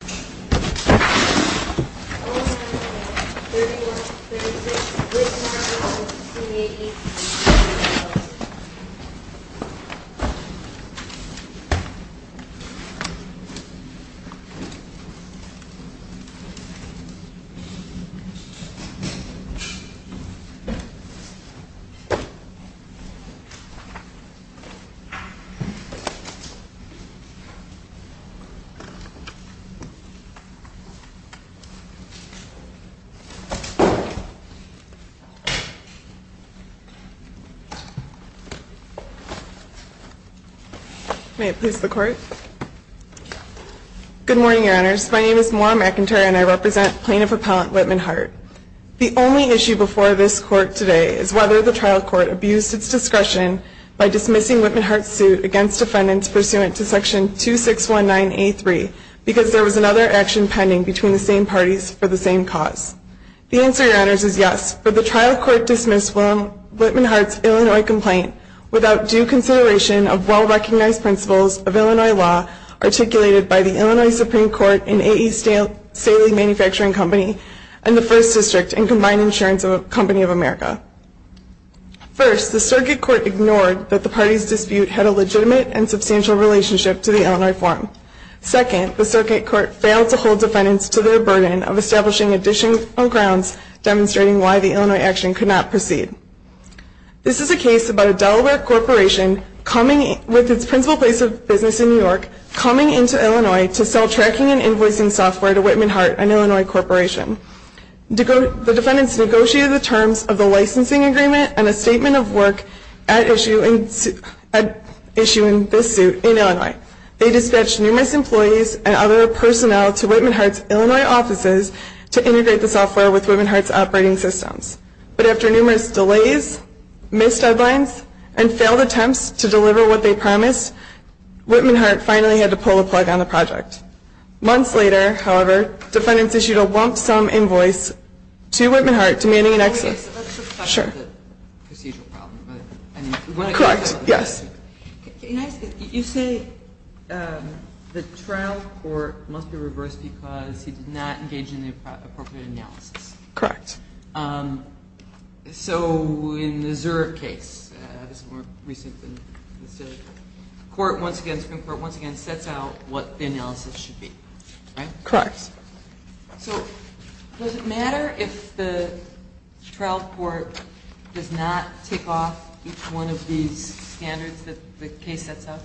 Call 9-1-1, 31-36, Whittmanhart v. CA, Inc. Good morning, Your Honors. My name is Maura McIntyre and I represent Plaintiff Appellant Whittmanhart. The only issue before this Court today is whether the trial court abused its discretion by dismissing Whittmanhart's suit against defendants pursuant to Section 2619A3 because there was another action pending between the same parties for the same cause. The answer, Your Honors, is yes, for the trial court dismissed Whittmanhart's Illinois complaint without due consideration of well-recognized principles of Illinois law articulated by the Illinois Supreme Court and A.E. Staley Manufacturing Company First, the circuit court ignored that the parties' dispute had a legitimate and substantial relationship to the Illinois form. Second, the circuit court failed to hold defendants to their burden of establishing additional grounds demonstrating why the Illinois action could not proceed. This is a case about a Delaware corporation with its principal place of business in New York coming into Illinois to sell tracking and invoicing software to Whittmanhart, an Illinois corporation. The defendants negotiated the terms of the licensing agreement and a statement of work at issuing this suit in Illinois. They dispatched numerous employees and other personnel to Whittmanhart's Illinois offices to integrate the software with Whittmanhart's operating systems. But after numerous delays, missed deadlines, and failed attempts to deliver what they promised, Whittmanhart finally had to pull the plug on the project. Months later, however, defendants issued a lump-sum invoice to Whittmanhart demanding an excess. Let's just talk about the procedural problem. Correct, yes. You say the trial court must be reversed because he did not engage in the appropriate analysis. Correct. So in the Zurich case, this is more recent than the Staley case, but the Supreme Court once again sets out what the analysis should be, right? Correct. So does it matter if the trial court does not take off each one of these standards that the case sets out?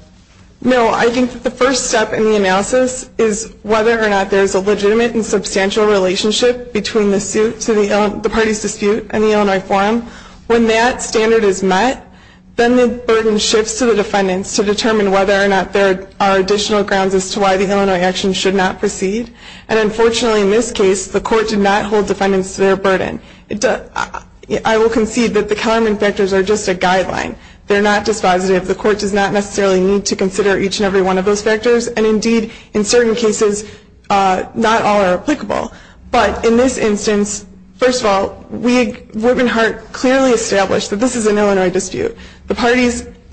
No, I think that the first step in the analysis is whether or not there is a legitimate and substantial relationship between the suit to the parties dispute in the Illinois forum. When that standard is met, then the burden shifts to the defendants to determine whether or not there are additional grounds as to why the Illinois action should not proceed. And unfortunately in this case, the court did not hold defendants to their burden. I will concede that the Kellerman factors are just a guideline. They're not dispositive. The court does not necessarily need to consider each and every one of those factors. And indeed, in certain cases, not all are applicable. But in this instance, first of all, Whitman Hart clearly established that this is an Illinois dispute.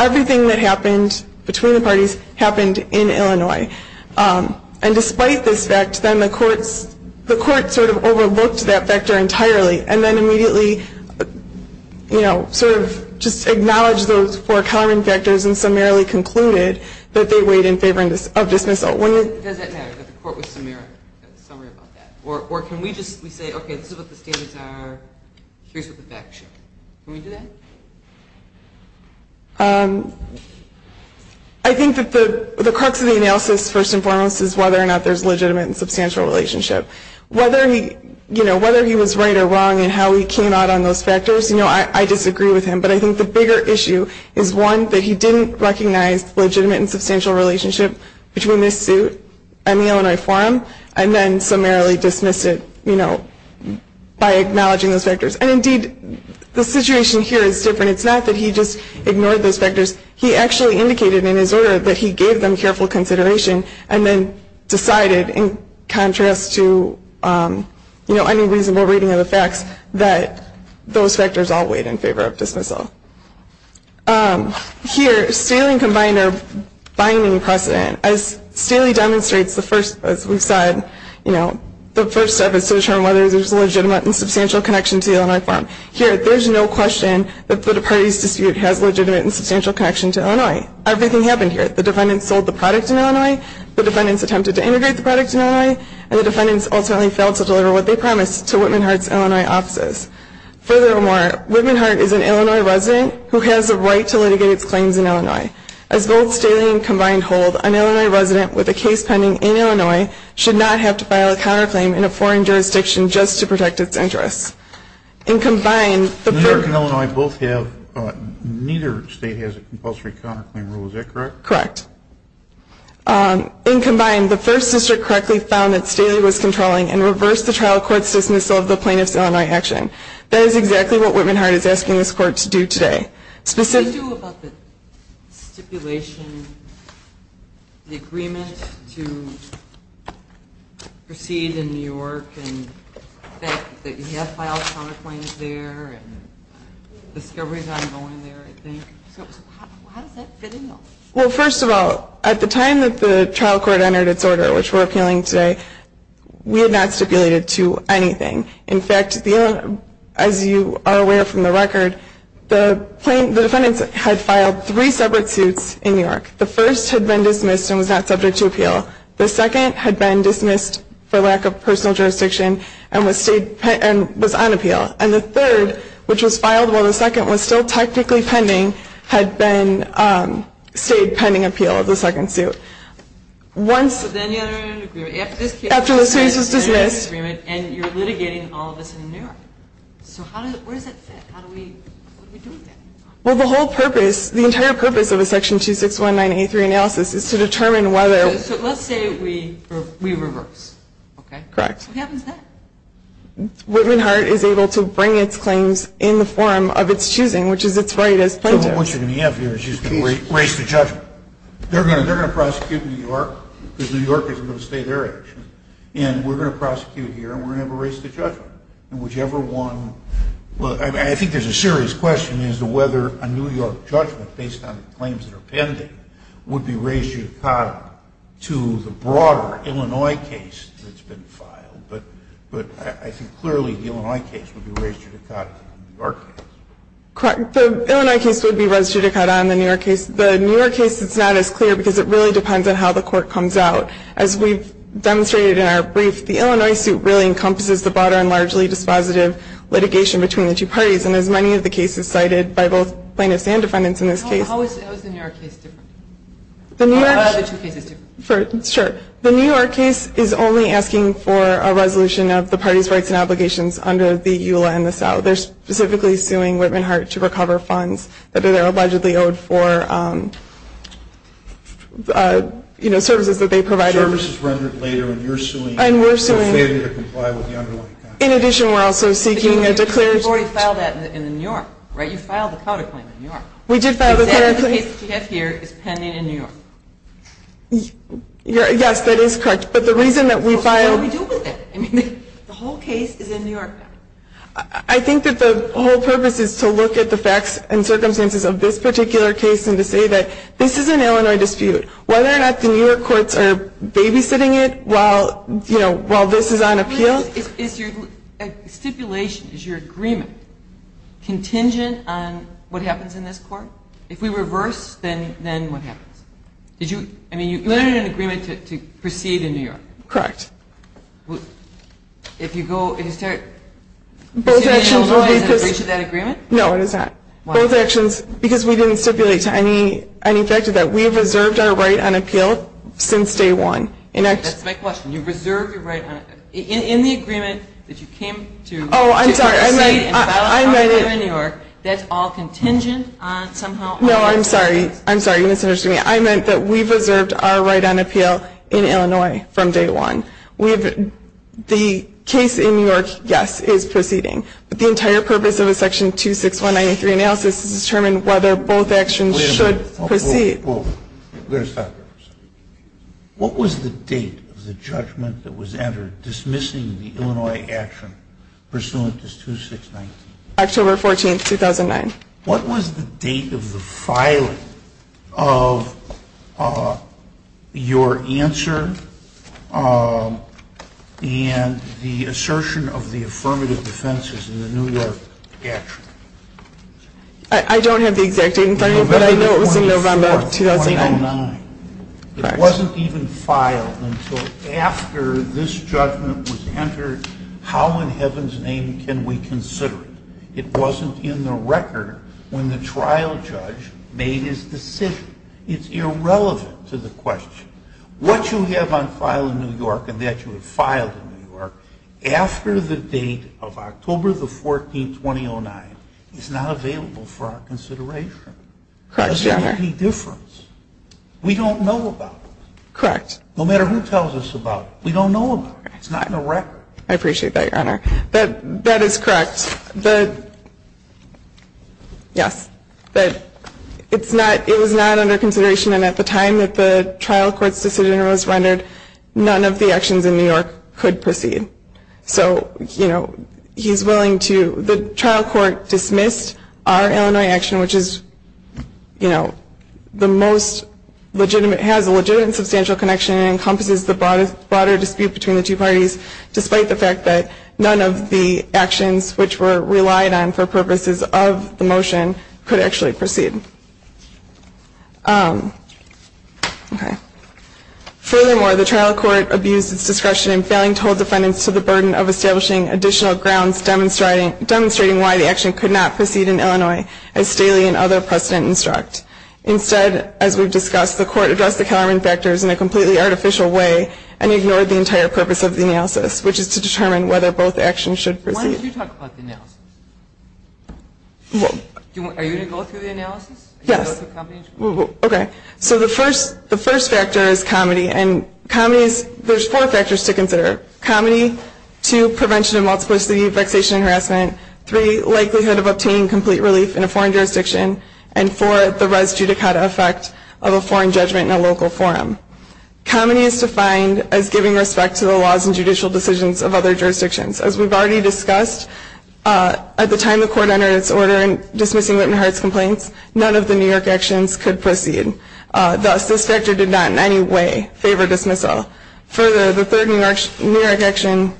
Everything that happened between the parties happened in Illinois. And despite this fact, then the court sort of overlooked that factor entirely and then immediately sort of just acknowledged those four Kellerman factors and summarily concluded that they weighed in favor of dismissal. Does that matter that the court was summary about that? Or can we just say, okay, this is what the standards are. Here's what the facts show. Can we do that? I think that the crux of the analysis, first and foremost, is whether or not there's a legitimate and substantial relationship. Whether he was right or wrong in how he came out on those factors, I disagree with him. But I think the bigger issue is, one, that he didn't recognize legitimate and substantial relationship between this suit and the Illinois forum and then summarily dismissed it by acknowledging those factors. And indeed, the situation here is different. It's not that he just ignored those factors. He actually indicated in his order that he gave them careful consideration and then decided, in contrast to any reasonable reading of the facts, that those factors all weighed in favor of dismissal. Here, Staley combined our binding precedent. As Staley demonstrates, the first, as we've said, the first step is to determine whether there's a legitimate and substantial connection to the Illinois forum. Here, there's no question that the party's dispute has legitimate and substantial connection to Illinois. Everything happened here. The defendants sold the product in Illinois, the defendants attempted to integrate the product in Illinois, and the defendants ultimately failed to deliver what they promised to Whitman Hart's Illinois offices. Furthermore, Whitman Hart is an Illinois resident who has the right to litigate his claims in Illinois. As both Staley and Combined hold, an Illinois resident with a case pending in Illinois should not have to file a counterclaim in a foreign jurisdiction just to protect its interests. In Combined, the first… New York and Illinois both have, neither state has a compulsory counterclaim rule. Is that correct? Correct. In Combined, the first district correctly found that Staley was controlling and reversed the trial court's dismissal of the plaintiff's Illinois action. That is exactly what Whitman Hart is asking this court to do today. Specifically… What do you do about the stipulation, the agreement to proceed in New York and the fact that you have to file a counterclaim there and the discovery is ongoing there, I think. How does that fit in though? Well, first of all, at the time that the trial court entered its order, which we're appealing today, we had not stipulated to anything. In fact, as you are aware from the record, the defendants had filed three separate suits in New York. The first had been dismissed and was not subject to appeal. The second had been dismissed for lack of personal jurisdiction and was on appeal. And the third, which was filed while the second was still technically pending, had stayed pending appeal of the second suit. So then you have an agreement. After the suit was dismissed. And you're litigating all of this in New York. So where does that fit? What do we do with that? Well, the whole purpose, the entire purpose of a section 261983 analysis is to determine whether… So let's say we reverse. Correct. What happens then? Whitman Hart is able to bring its claims in the form of its choosing, which is its right as plaintiff. What you're going to have here is you're going to raise the judgment. They're going to prosecute New York because New York is going to stay their action. And we're going to prosecute here, and we're going to have a race to judgment. And whichever one… I think there's a serious question as to whether a New York judgment, based on the claims that are pending, would be raised judicatum to the broader Illinois case that's been filed. But I think clearly the Illinois case would be raised judicatum to the New York case. Correct. The Illinois case would be raised judicatum to the New York case. The New York case is not as clear because it really depends on how the court comes out. As we've demonstrated in our brief, the Illinois suit really encompasses the broader and largely dispositive litigation between the two parties. And as many of the cases cited by both plaintiffs and defendants in this case… How is the New York case different? The New York… Or are the two cases different? Sure. The New York case is only asking for a resolution of the parties' rights and obligations under the EULA and the SEL. They're specifically suing Whitman Heart to recover funds that they're allegedly owed for services that they provided. Services rendered later and you're suing… And we're suing…… to comply with the underlying contract. In addition, we're also seeking a declaration… But you already filed that in New York, right? You filed the counterclaim in New York. We did file the… And the case that you have here is pending in New York. Yes, that is correct. But the reason that we filed… So what do we do with it? I mean, the whole case is in New York now. I think that the whole purpose is to look at the facts and circumstances of this particular case and to say that this is an Illinois dispute. Whether or not the New York courts are babysitting it while, you know, while this is on appeal… Is your stipulation, is your agreement contingent on what happens in this court? If we reverse, then what happens? Did you… I mean, you entered an agreement to proceed in New York. Correct. If you go… Is there… Both actions will be…… in that agreement? No, it is not. Why? Both actions, because we didn't stipulate to any factor that we have reserved our right on appeal since day one. That's my question. You reserved your right on… In the agreement that you came to proceed… Oh, I'm sorry.… and filed a counterclaim in New York, that's all contingent on somehow… No, I'm sorry. I'm sorry. You misunderstood me. I meant that we've reserved our right on appeal in Illinois from day one. We've… The case in New York, yes, is proceeding. But the entire purpose of a section 26193 analysis is to determine whether both actions… Wait a minute.… should proceed. Wait a second. What was the date of the judgment that was entered dismissing the Illinois action pursuant to 2619? October 14, 2009. What was the date of the filing of your answer and the assertion of the affirmative defenses in the New York action? I don't have the exact date in front of me, but I know it was in November of 2009. November 24, 2009. Correct. It wasn't even filed until after this judgment was entered. How in heaven's name can we consider it? It wasn't in the record when the trial judge made his decision. It's irrelevant to the question. What you have on file in New York and that you have filed in New York after the date of October 14, 2009 is not available for our consideration. Correct, Your Honor. It doesn't make any difference. We don't know about it. Correct. No matter who tells us about it. We don't know about it. It's not in the record. I appreciate that, Your Honor. That is correct. Yes. It was not under consideration and at the time that the trial court's decision was rendered, none of the actions in New York could proceed. So, you know, he's willing to, the trial court dismissed our Illinois action, which is, you know, the most legitimate, has a legitimate and substantial connection and encompasses the broader dispute between the two parties, despite the fact that none of the actions which were relied on for purposes of the motion could actually proceed. Okay. Furthermore, the trial court abused its discretion in failing to hold defendants to the burden of establishing additional grounds demonstrating why the action could not proceed in Illinois as Staley and other precedent instruct. Instead, as we've discussed, the court addressed the Kalerman factors in a completely artificial way and ignored the entire purpose of the analysis, which is to determine whether both actions should proceed. Why don't you talk about the analysis? Are you going to go through the analysis? Yes. Okay. So the first factor is comedy, and comedy is, there's four factors to consider. Comedy, two, prevention of multiplicity, vexation and harassment, three, likelihood of obtaining complete relief in a foreign jurisdiction, and four, the res judicata effect of a foreign judgment in a local forum. Comedy is defined as giving respect to the laws and judicial decisions of other jurisdictions. As we've already discussed, at the time the court entered its order in dismissing Whitman-Hart's complaints, none of the New York actions could proceed. Thus, this factor did not in any way favor dismissal. Further, the third New York action,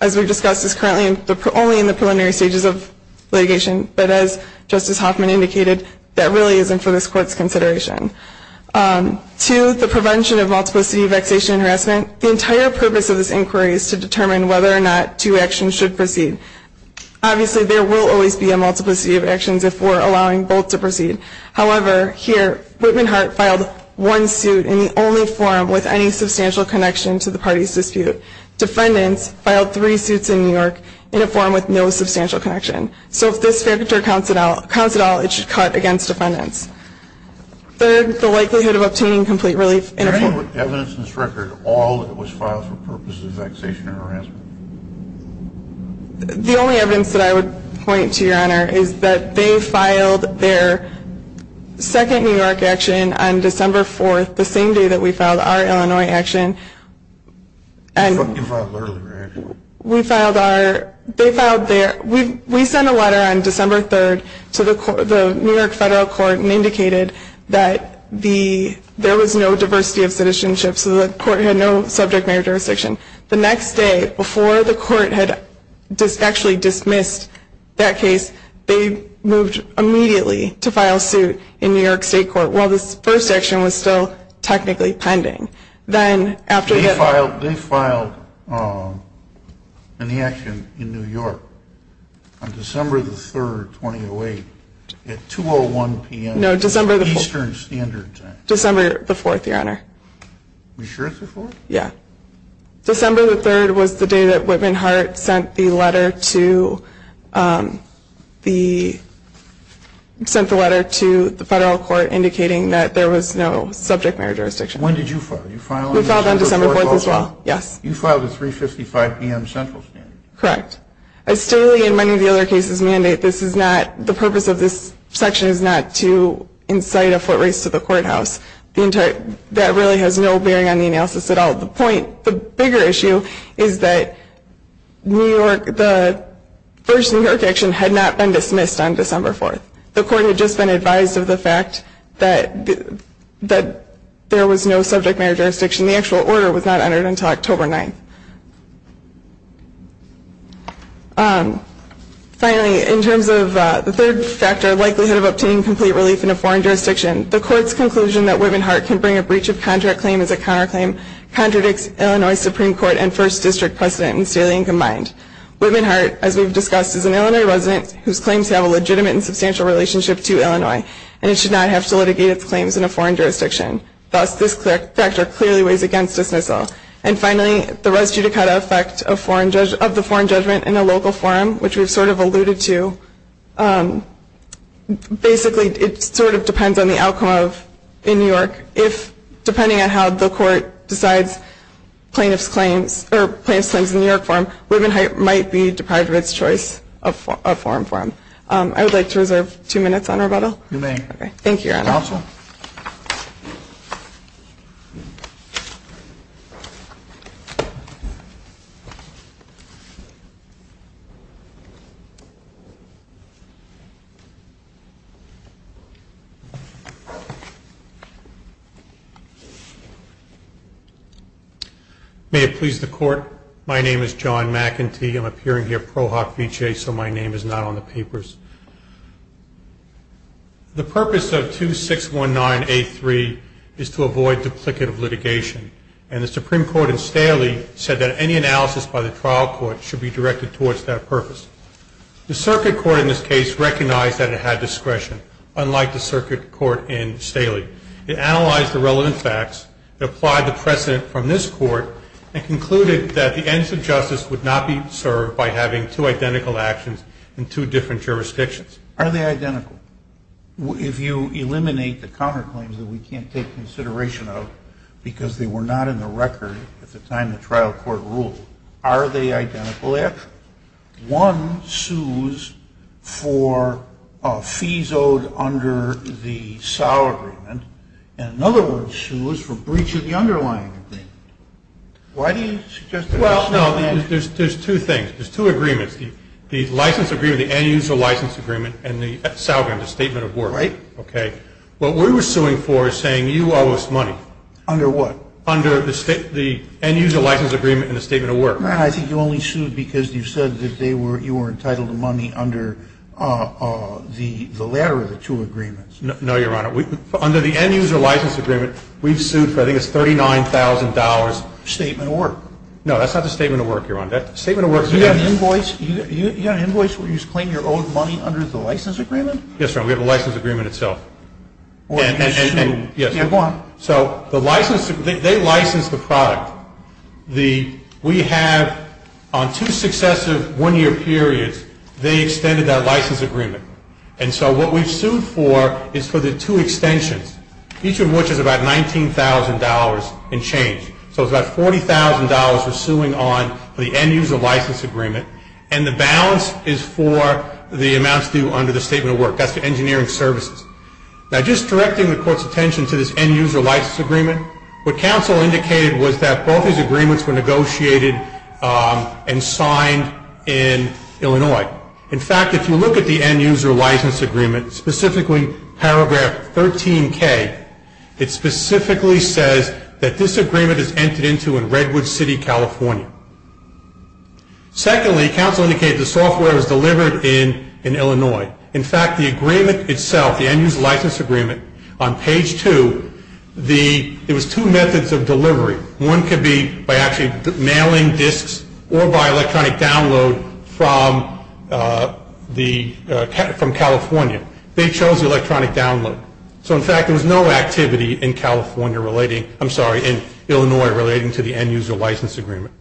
as we've discussed, is currently only in the preliminary stages of litigation, but as Justice Hoffman indicated, that really isn't for this court's consideration. Two, the prevention of multiplicity, vexation and harassment. The entire purpose of this inquiry is to determine whether or not two actions should proceed. Obviously, there will always be a multiplicity of actions if we're allowing both to proceed. However, here, Whitman-Hart filed one suit in the only forum with any substantial connection to the party's dispute. Defendants filed three suits in New York in a forum with no substantial connection. So if this factor counts at all, it should cut against defendants. Third, the likelihood of obtaining complete relief in a forum. Is there any evidence in this record at all that it was filed for purposes of vexation or harassment? The only evidence that I would point to, Your Honor, is that they filed their second New York action on December 4th, the same day that we filed our Illinois action. You filed earlier, actually. We filed our, they filed their, we sent a letter on December 3rd to the New York Federal Court and indicated that there was no diversity of citizenship, so the court had no subject matter jurisdiction. The next day, before the court had actually dismissed that case, they moved immediately to file suit in New York State Court, while this first action was still technically pending. They filed an action in New York on December 3rd, 2008, at 2.01 p.m. Eastern Standard Time. No, December the 4th, Your Honor. Are you sure it's the 4th? Yeah. December the 3rd was the day that Whitman Hart sent the letter to the Federal Court indicating that there was no subject matter jurisdiction. When did you file? We filed on December 4th as well, yes. You filed at 3.55 p.m. Central Standard? Correct. As Staley and many of the other cases mandate, this is not, the purpose of this section is not to incite a foot race to the courthouse. That really has no bearing on the analysis at all. The point, the bigger issue is that New York, the first New York action had not been dismissed on December 4th. The Court had just been advised of the fact that there was no subject matter jurisdiction. The actual order was not entered until October 9th. Finally, in terms of the third factor, likelihood of obtaining complete relief in a foreign jurisdiction, the Court's conclusion that Whitman Hart can bring a breach of contract claim as a counterclaim contradicts Illinois Supreme Court and First District precedent in Staley and combined. Whitman Hart, as we've discussed, is an Illinois resident whose claims have a legitimate and substantial relationship to Illinois, and it should not have to litigate its claims in a foreign jurisdiction. Thus, this factor clearly weighs against dismissal. And finally, the res judicata effect of the foreign judgment in a local forum, which we've sort of alluded to, basically it sort of depends on the outcome in New York. If, depending on how the Court decides plaintiff's claims or plaintiff's claims in the New York forum, Whitman Hart might be deprived of its choice of a foreign forum. I would like to reserve two minutes on rebuttal. You may. You're welcome. May it please the Court. My name is John McEntee. I'm appearing here pro hoc vici, so my name is not on the papers. The purpose of 2619A3 is to avoid duplicative litigation, and the Supreme Court in Staley said that any analysis by the trial court should be directed towards that purpose. The circuit court in this case recognized that it had discretion, unlike the circuit court in Staley. It analyzed the relevant facts, it applied the precedent from this Court, and concluded that the ends of justice would not be served by having two identical actions in two different jurisdictions. Are they identical? If you eliminate the counterclaims that we can't take consideration of because they were not in the record at the time the trial court ruled, are they identical action? One sues for fees owed under the SOW agreement, and another one sues for breach of the underlying agreement. Why do you suggest that? Well, no, there's two things. There's two agreements. The license agreement, the end-user license agreement, and the SOW agreement, the statement of work. Right. Okay. What we were suing for is saying you owe us money. Under what? Under the end-user license agreement and the statement of work. I think you only sued because you said that you were entitled to money under the latter of the two agreements. No, Your Honor. Under the end-user license agreement, we've sued for I think it's $39,000. Statement of work. No, that's not the statement of work, Your Honor. You got an invoice where you claim your own money under the license agreement? Yes, Your Honor. We have a license agreement itself. And you sued. Yes. Go on. So they licensed the product. We have, on two successive one-year periods, they extended that license agreement. And so what we've sued for is for the two extensions, each of which is about $19,000 and change. So it's about $40,000 we're suing on for the end-user license agreement. And the balance is for the amounts due under the statement of work. That's the engineering services. Now, just directing the Court's attention to this end-user license agreement, what counsel indicated was that both these agreements were negotiated and signed in Illinois. In fact, if you look at the end-user license agreement, specifically paragraph 13K, it specifically says that this agreement is entered into in Redwood City, California. Secondly, counsel indicated the software was delivered in Illinois. In fact, the agreement itself, the end-user license agreement, on page 2, there was two methods of delivery. One could be by actually mailing disks or by electronic download from California. They chose electronic download. So, in fact, there was no activity in California relating to the end-user license agreement.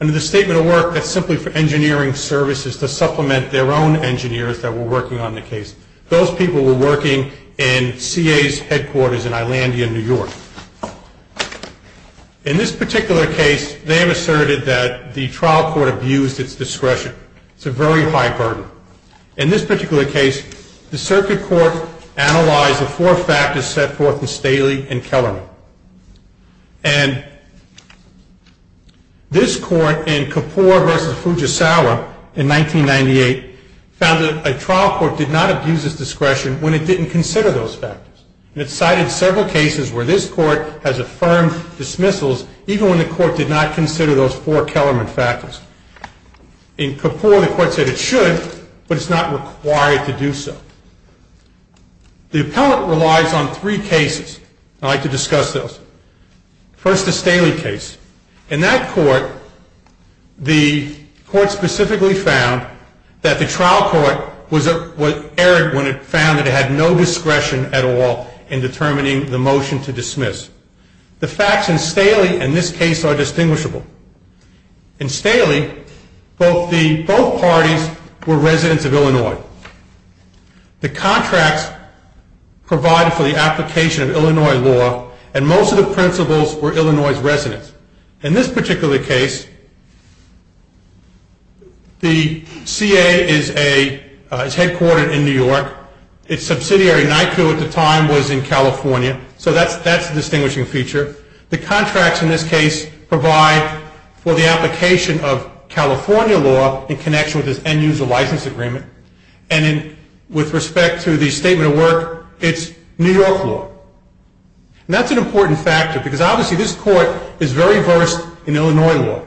Under the statement of work, that's simply for engineering services to supplement their own engineers that were working on the case. Those people were working in CA's headquarters in Ilandia, New York. In this particular case, they have asserted that the trial court abused its discretion. It's a very high burden. In this particular case, the circuit court analyzed the four factors set forth in Staley and Kellerman. And this court in Kapoor v. Fujisawa in 1998 found that a trial court did not abuse its discretion when it didn't consider those factors. And it cited several cases where this court has affirmed dismissals even when the court did not consider those four Kellerman factors. In Kapoor, the court said it should, but it's not required to do so. The appellate relies on three cases. I'd like to discuss those. First, the Staley case. In that court, the court specifically found that the trial court was errant when it found that it had no discretion at all in determining the motion to dismiss. The facts in Staley and this case are distinguishable. In Staley, both parties were residents of Illinois. The contracts provided for the application of Illinois law, and most of the principals were Illinois residents. In this particular case, the CA is headquartered in New York. Its subsidiary, NYCU at the time, was in California. So that's a distinguishing feature. The contracts in this case provide for the application of California law in connection with this end-user license agreement. And with respect to the statement of work, it's New York law. And that's an important factor, because obviously this court is very versed in Illinois law.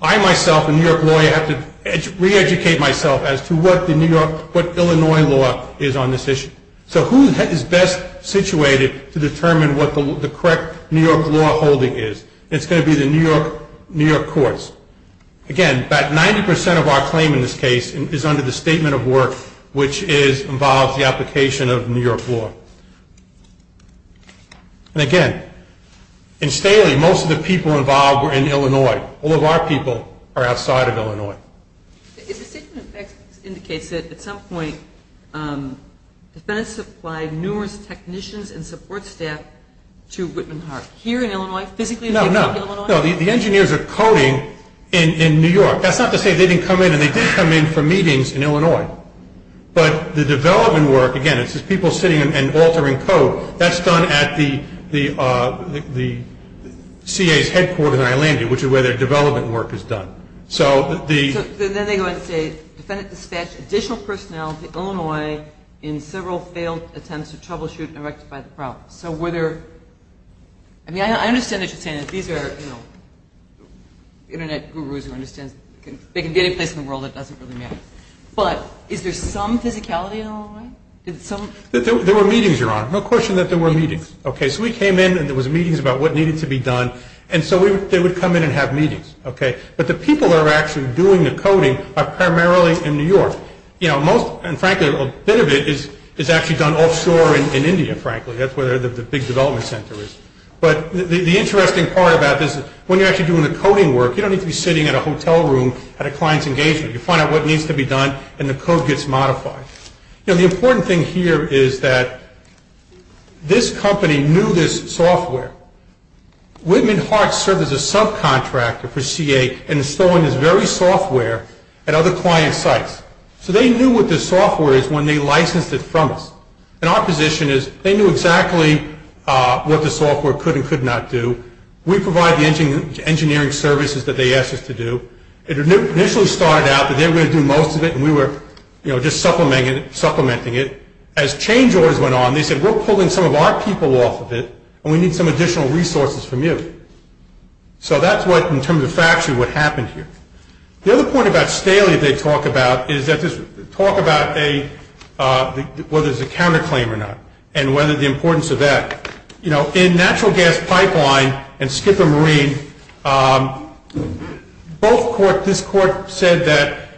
I, myself, a New York lawyer, have to re-educate myself as to what Illinois law is on this issue. So who is best situated to determine what the correct New York law holding is? It's going to be the New York courts. Again, about 90% of our claim in this case is under the statement of work, which involves the application of New York law. And again, in Staley, most of the people involved were in Illinois. All of our people are outside of Illinois. The statement of facts indicates that, at some point, defense supplied numerous technicians and support staff to Whitman Heart. Here in Illinois, physically in Illinois? No, no. The engineers are coding in New York. That's not to say they didn't come in, and they did come in for meetings in Illinois. But the development work, again, it's just people sitting and altering code. That's done at the CA's headquarter in Iolanda, which is where their development work is done. So then they go and say, defendant dispatched additional personnel to Illinois in several failed attempts to troubleshoot and rectify the problem. So were there – I mean, I understand that you're saying that these are, you know, Internet gurus who understand they can be any place in the world, it doesn't really matter. But is there some physicality in Illinois? There were meetings, Your Honor. No question that there were meetings. Okay, so we came in, and there was meetings about what needed to be done. And so they would come in and have meetings. Okay, but the people that are actually doing the coding are primarily in New York. You know, most – and frankly, a bit of it is actually done offshore in India, frankly. That's where the big development center is. But the interesting part about this is when you're actually doing the coding work, you don't need to be sitting in a hotel room at a client's engagement. You find out what needs to be done, and the code gets modified. You know, the important thing here is that this company knew this software. Whitman Hearts served as a subcontractor for CA and is storing this very software at other client sites. So they knew what this software is when they licensed it from us. And our position is they knew exactly what the software could and could not do. We provide the engineering services that they asked us to do. It initially started out that they were going to do most of it, and we were, you know, just supplementing it. As change orders went on, they said, We're pulling some of our people off of it, and we need some additional resources from you. So that's what, in terms of factory, what happened here. The other point about Staley they talk about is that this – talk about a – whether it's a counterclaim or not and whether the importance of that. You know, in natural gas pipeline and Skipper Marine, both court – this court said that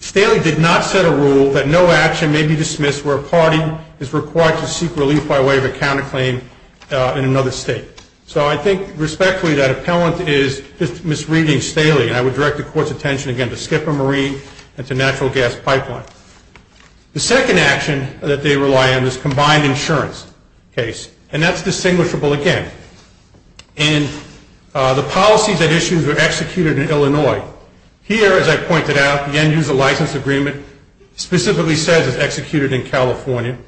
Staley did not set a rule that no action may be dismissed where a party is required to seek relief by way of a counterclaim in another state. So I think respectfully that appellant is misreading Staley, and I would direct the court's attention again to Skipper Marine and to natural gas pipeline. The second action that they rely on is combined insurance case, and that's distinguishable again. Here, as I pointed out, the end-user license agreement specifically says it's executed in California.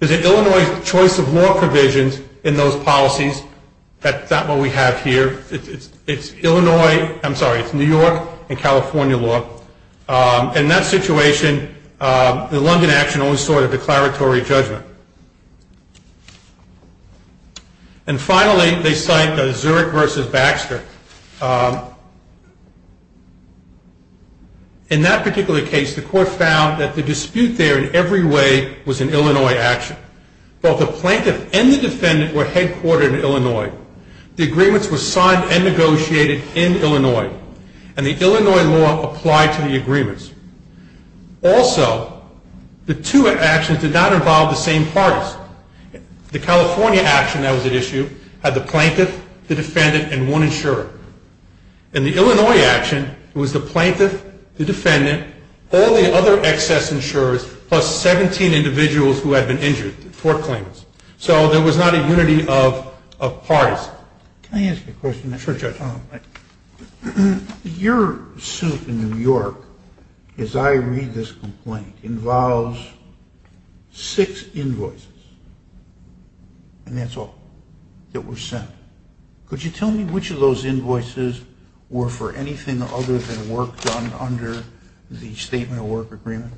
Is it Illinois' choice of law provisions in those policies? That's not what we have here. It's Illinois – I'm sorry, it's New York and California law. In that situation, the London action only sought a declaratory judgment. And finally, they cite Zurich v. Baxter. In that particular case, the court found that the dispute there in every way was an Illinois action. Both the plaintiff and the defendant were headquartered in Illinois. The agreements were signed and negotiated in Illinois, and the Illinois law applied to the agreements. Also, the two actions did not involve the same parties. The California action that was at issue had the plaintiff, the defendant, and one insurer. In the Illinois action, it was the plaintiff, the defendant, all the other excess insurers, plus 17 individuals who had been injured, four claimants. So there was not a unity of parties. Can I ask you a question? Sure, Judge. Your suit in New York, as I read this complaint, involves six invoices, and that's all that were sent. Could you tell me which of those invoices were for anything other than work done under the statement of work agreement?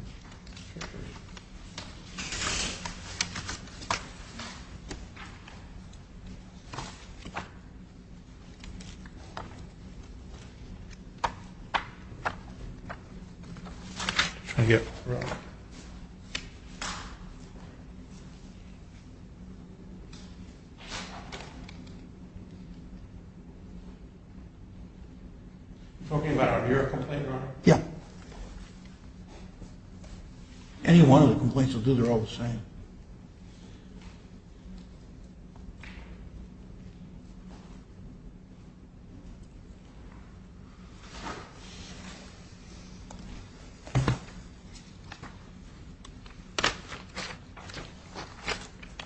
Thank you. Talking about your complaint, Your Honor? Yeah. Any one of the complaints will do, they're all the same.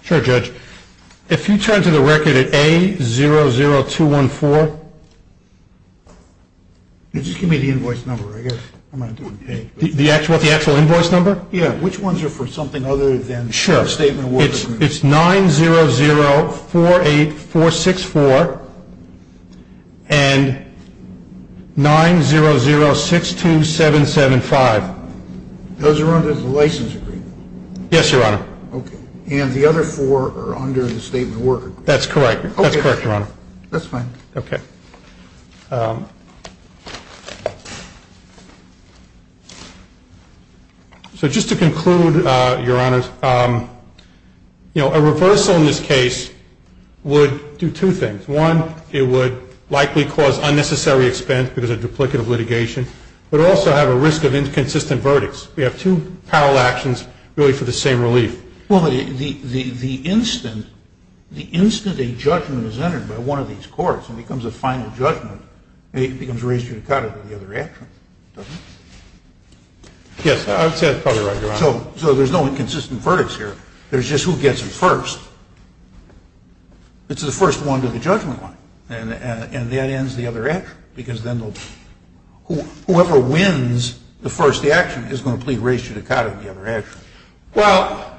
Sure, Judge. If you turn to the record at A00214. Just give me the invoice number, I guess. The actual invoice number? Yeah, which ones are for something other than the statement of work agreement? It's 90048464 and 90062775. Those are under the license agreement? Yes, Your Honor. Okay. And the other four are under the statement of work agreement? That's correct. That's correct, Your Honor. That's fine. Okay. So just to conclude, Your Honor, you know, a reversal in this case would do two things. One, it would likely cause unnecessary expense because of duplicative litigation, but also have a risk of inconsistent verdicts. We have two parallel actions really for the same relief. Well, the instant a judgment is entered by one of these courts and it becomes a final judgment, it becomes res judicata for the other action, doesn't it? Yes, I would say that's probably right, Your Honor. So there's no inconsistent verdicts here. There's just who gets it first. It's the first one to the judgment line, and that ends the other action because then whoever wins the first action is going to plead res judicata in the other action. Well,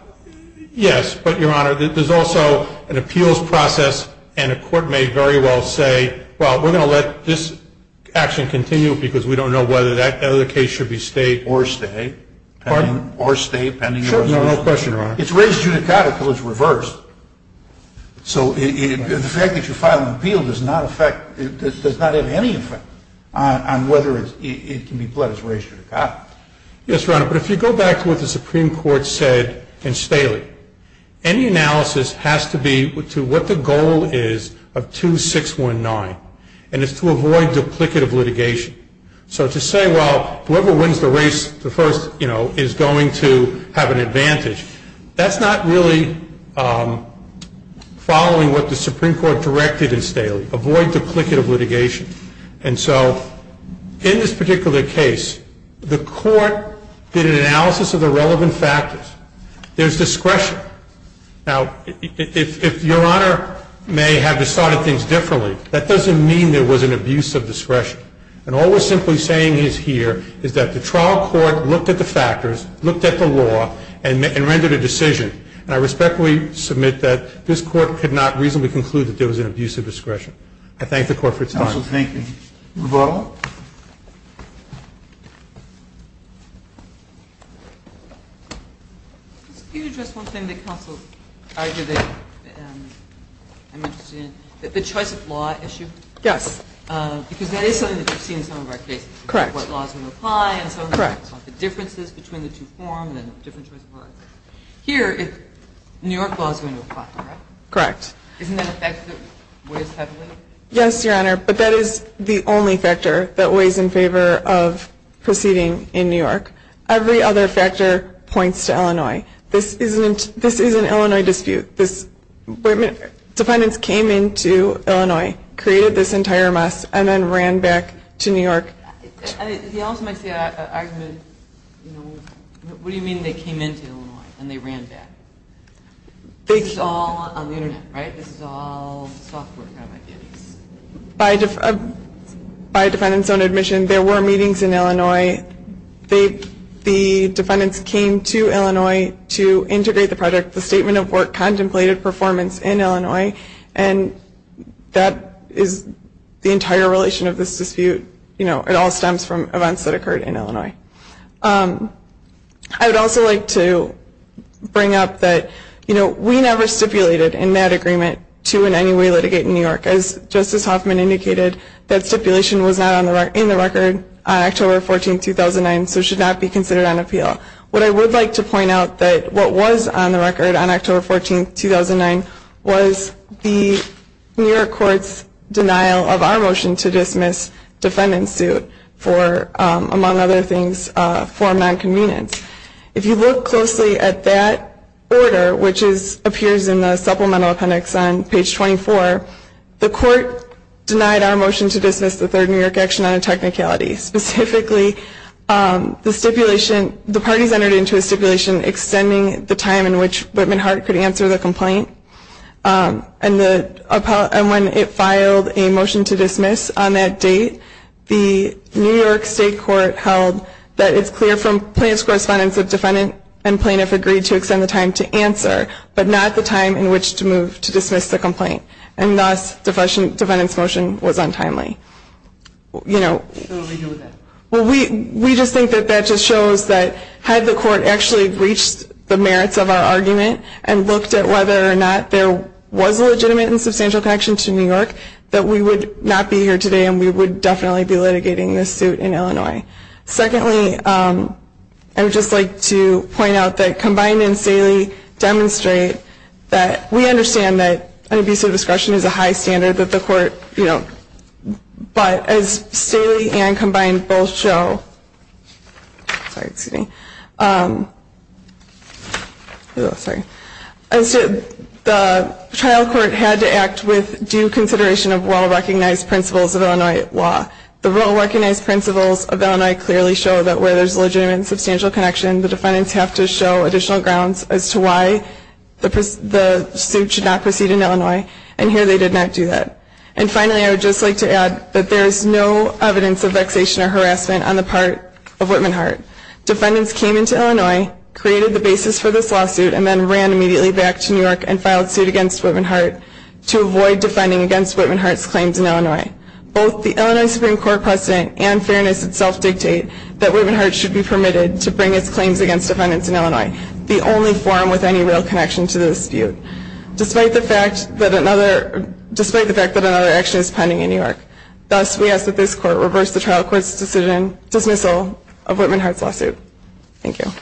yes, but, Your Honor, there's also an appeals process, and a court may very well say, well, we're going to let this action continue because we don't know whether that other case should be stayed. Or stay. Pardon? Or stay pending. Sure. No question, Your Honor. It's res judicata because it's reversed. So the fact that you file an appeal does not have any effect on whether it can be pled as res judicata. Yes, Your Honor, but if you go back to what the Supreme Court said in Staley, any analysis has to be to what the goal is of 2619, and it's to avoid duplicative litigation. So to say, well, whoever wins the race, the first, you know, is going to have an advantage, that's not really following what the Supreme Court directed in Staley, avoid duplicative litigation. And so in this particular case, the court did an analysis of the relevant factors. There's discretion. Now, if Your Honor may have decided things differently, that doesn't mean there was an abuse of discretion. And all we're simply saying is here is that the trial court looked at the factors, looked at the law, and rendered a decision. And I respectfully submit that this Court could not reasonably conclude that there was an abuse of discretion. I thank the Court for its time. Counsel, thank you. Rebuttal? Could you address one thing that counsel argued that I'm interested in? The choice of law issue? Yes. Because that is something that we've seen in some of our cases. Correct. What laws are going to apply and so on. Correct. The differences between the two forms and different choices of law. Here, New York law is going to apply, correct? Correct. Isn't that an effect that weighs heavily? Yes, Your Honor. But that is the only factor that weighs in favor of proceeding in New York. Every other factor points to Illinois. This is an Illinois dispute. Defendants came into Illinois, created this entire mess, and then ran back to New York. He also makes the argument, what do you mean they came into Illinois and they ran back? This is all on the Internet, right? This is all software kind of ideas. By defendants' own admission, there were meetings in Illinois. The defendants came to Illinois to integrate the project. The statement of work contemplated performance in Illinois, and that is the entire relation of this dispute. It all stems from events that occurred in Illinois. I would also like to bring up that we never stipulated in that agreement to in any way litigate in New York. As Justice Hoffman indicated, that stipulation was not in the record on October 14, 2009, so should not be considered on appeal. What I would like to point out that what was on the record on October 14, 2009, was the New York court's denial of our motion to dismiss defendants' suit for, among other things, for nonconvenience. If you look closely at that order, which appears in the supplemental appendix on page 24, the court denied our motion to dismiss the third New York action on a technicality. Specifically, the parties entered into a stipulation extending the time in which And when it filed a motion to dismiss on that date, the New York state court held that it's clear from plaintiff's correspondence that defendant and plaintiff agreed to extend the time to answer, but not the time in which to move to dismiss the complaint. And thus, defendant's motion was untimely. We just think that that just shows that had the court actually reached the merits of our argument and looked at whether or not there was a legitimate and substantial connection to New York, that we would not be here today and we would definitely be litigating this suit in Illinois. Secondly, I would just like to point out that Combined and Staley demonstrate that we understand that an abuse of discretion is a high standard that the court, you know, but as Staley and Combined both show, sorry, excuse me, the trial court had to act with due consideration of well-recognized principles of Illinois law. The well-recognized principles of Illinois clearly show that where there's a legitimate and substantial connection, the defendants have to show additional grounds as to why the suit should not proceed in Illinois, and here they did not do that. And finally, I would just like to add that there is no evidence of vexation or harassment on the part of Whitman-Hart. Defendants came into Illinois, created the basis for this lawsuit, and then ran immediately back to New York and filed suit against Whitman-Hart to avoid defending against Whitman-Hart's claims in Illinois. Both the Illinois Supreme Court precedent and fairness itself dictate that Whitman-Hart should be permitted to bring its claims against defendants in Illinois, the only forum with any real connection to the dispute. Despite the fact that another, despite the fact that another action is pending in New York. Thus, we ask that this court reverse the trial court's decision, dismissal of Whitman-Hart's lawsuit. Thank you.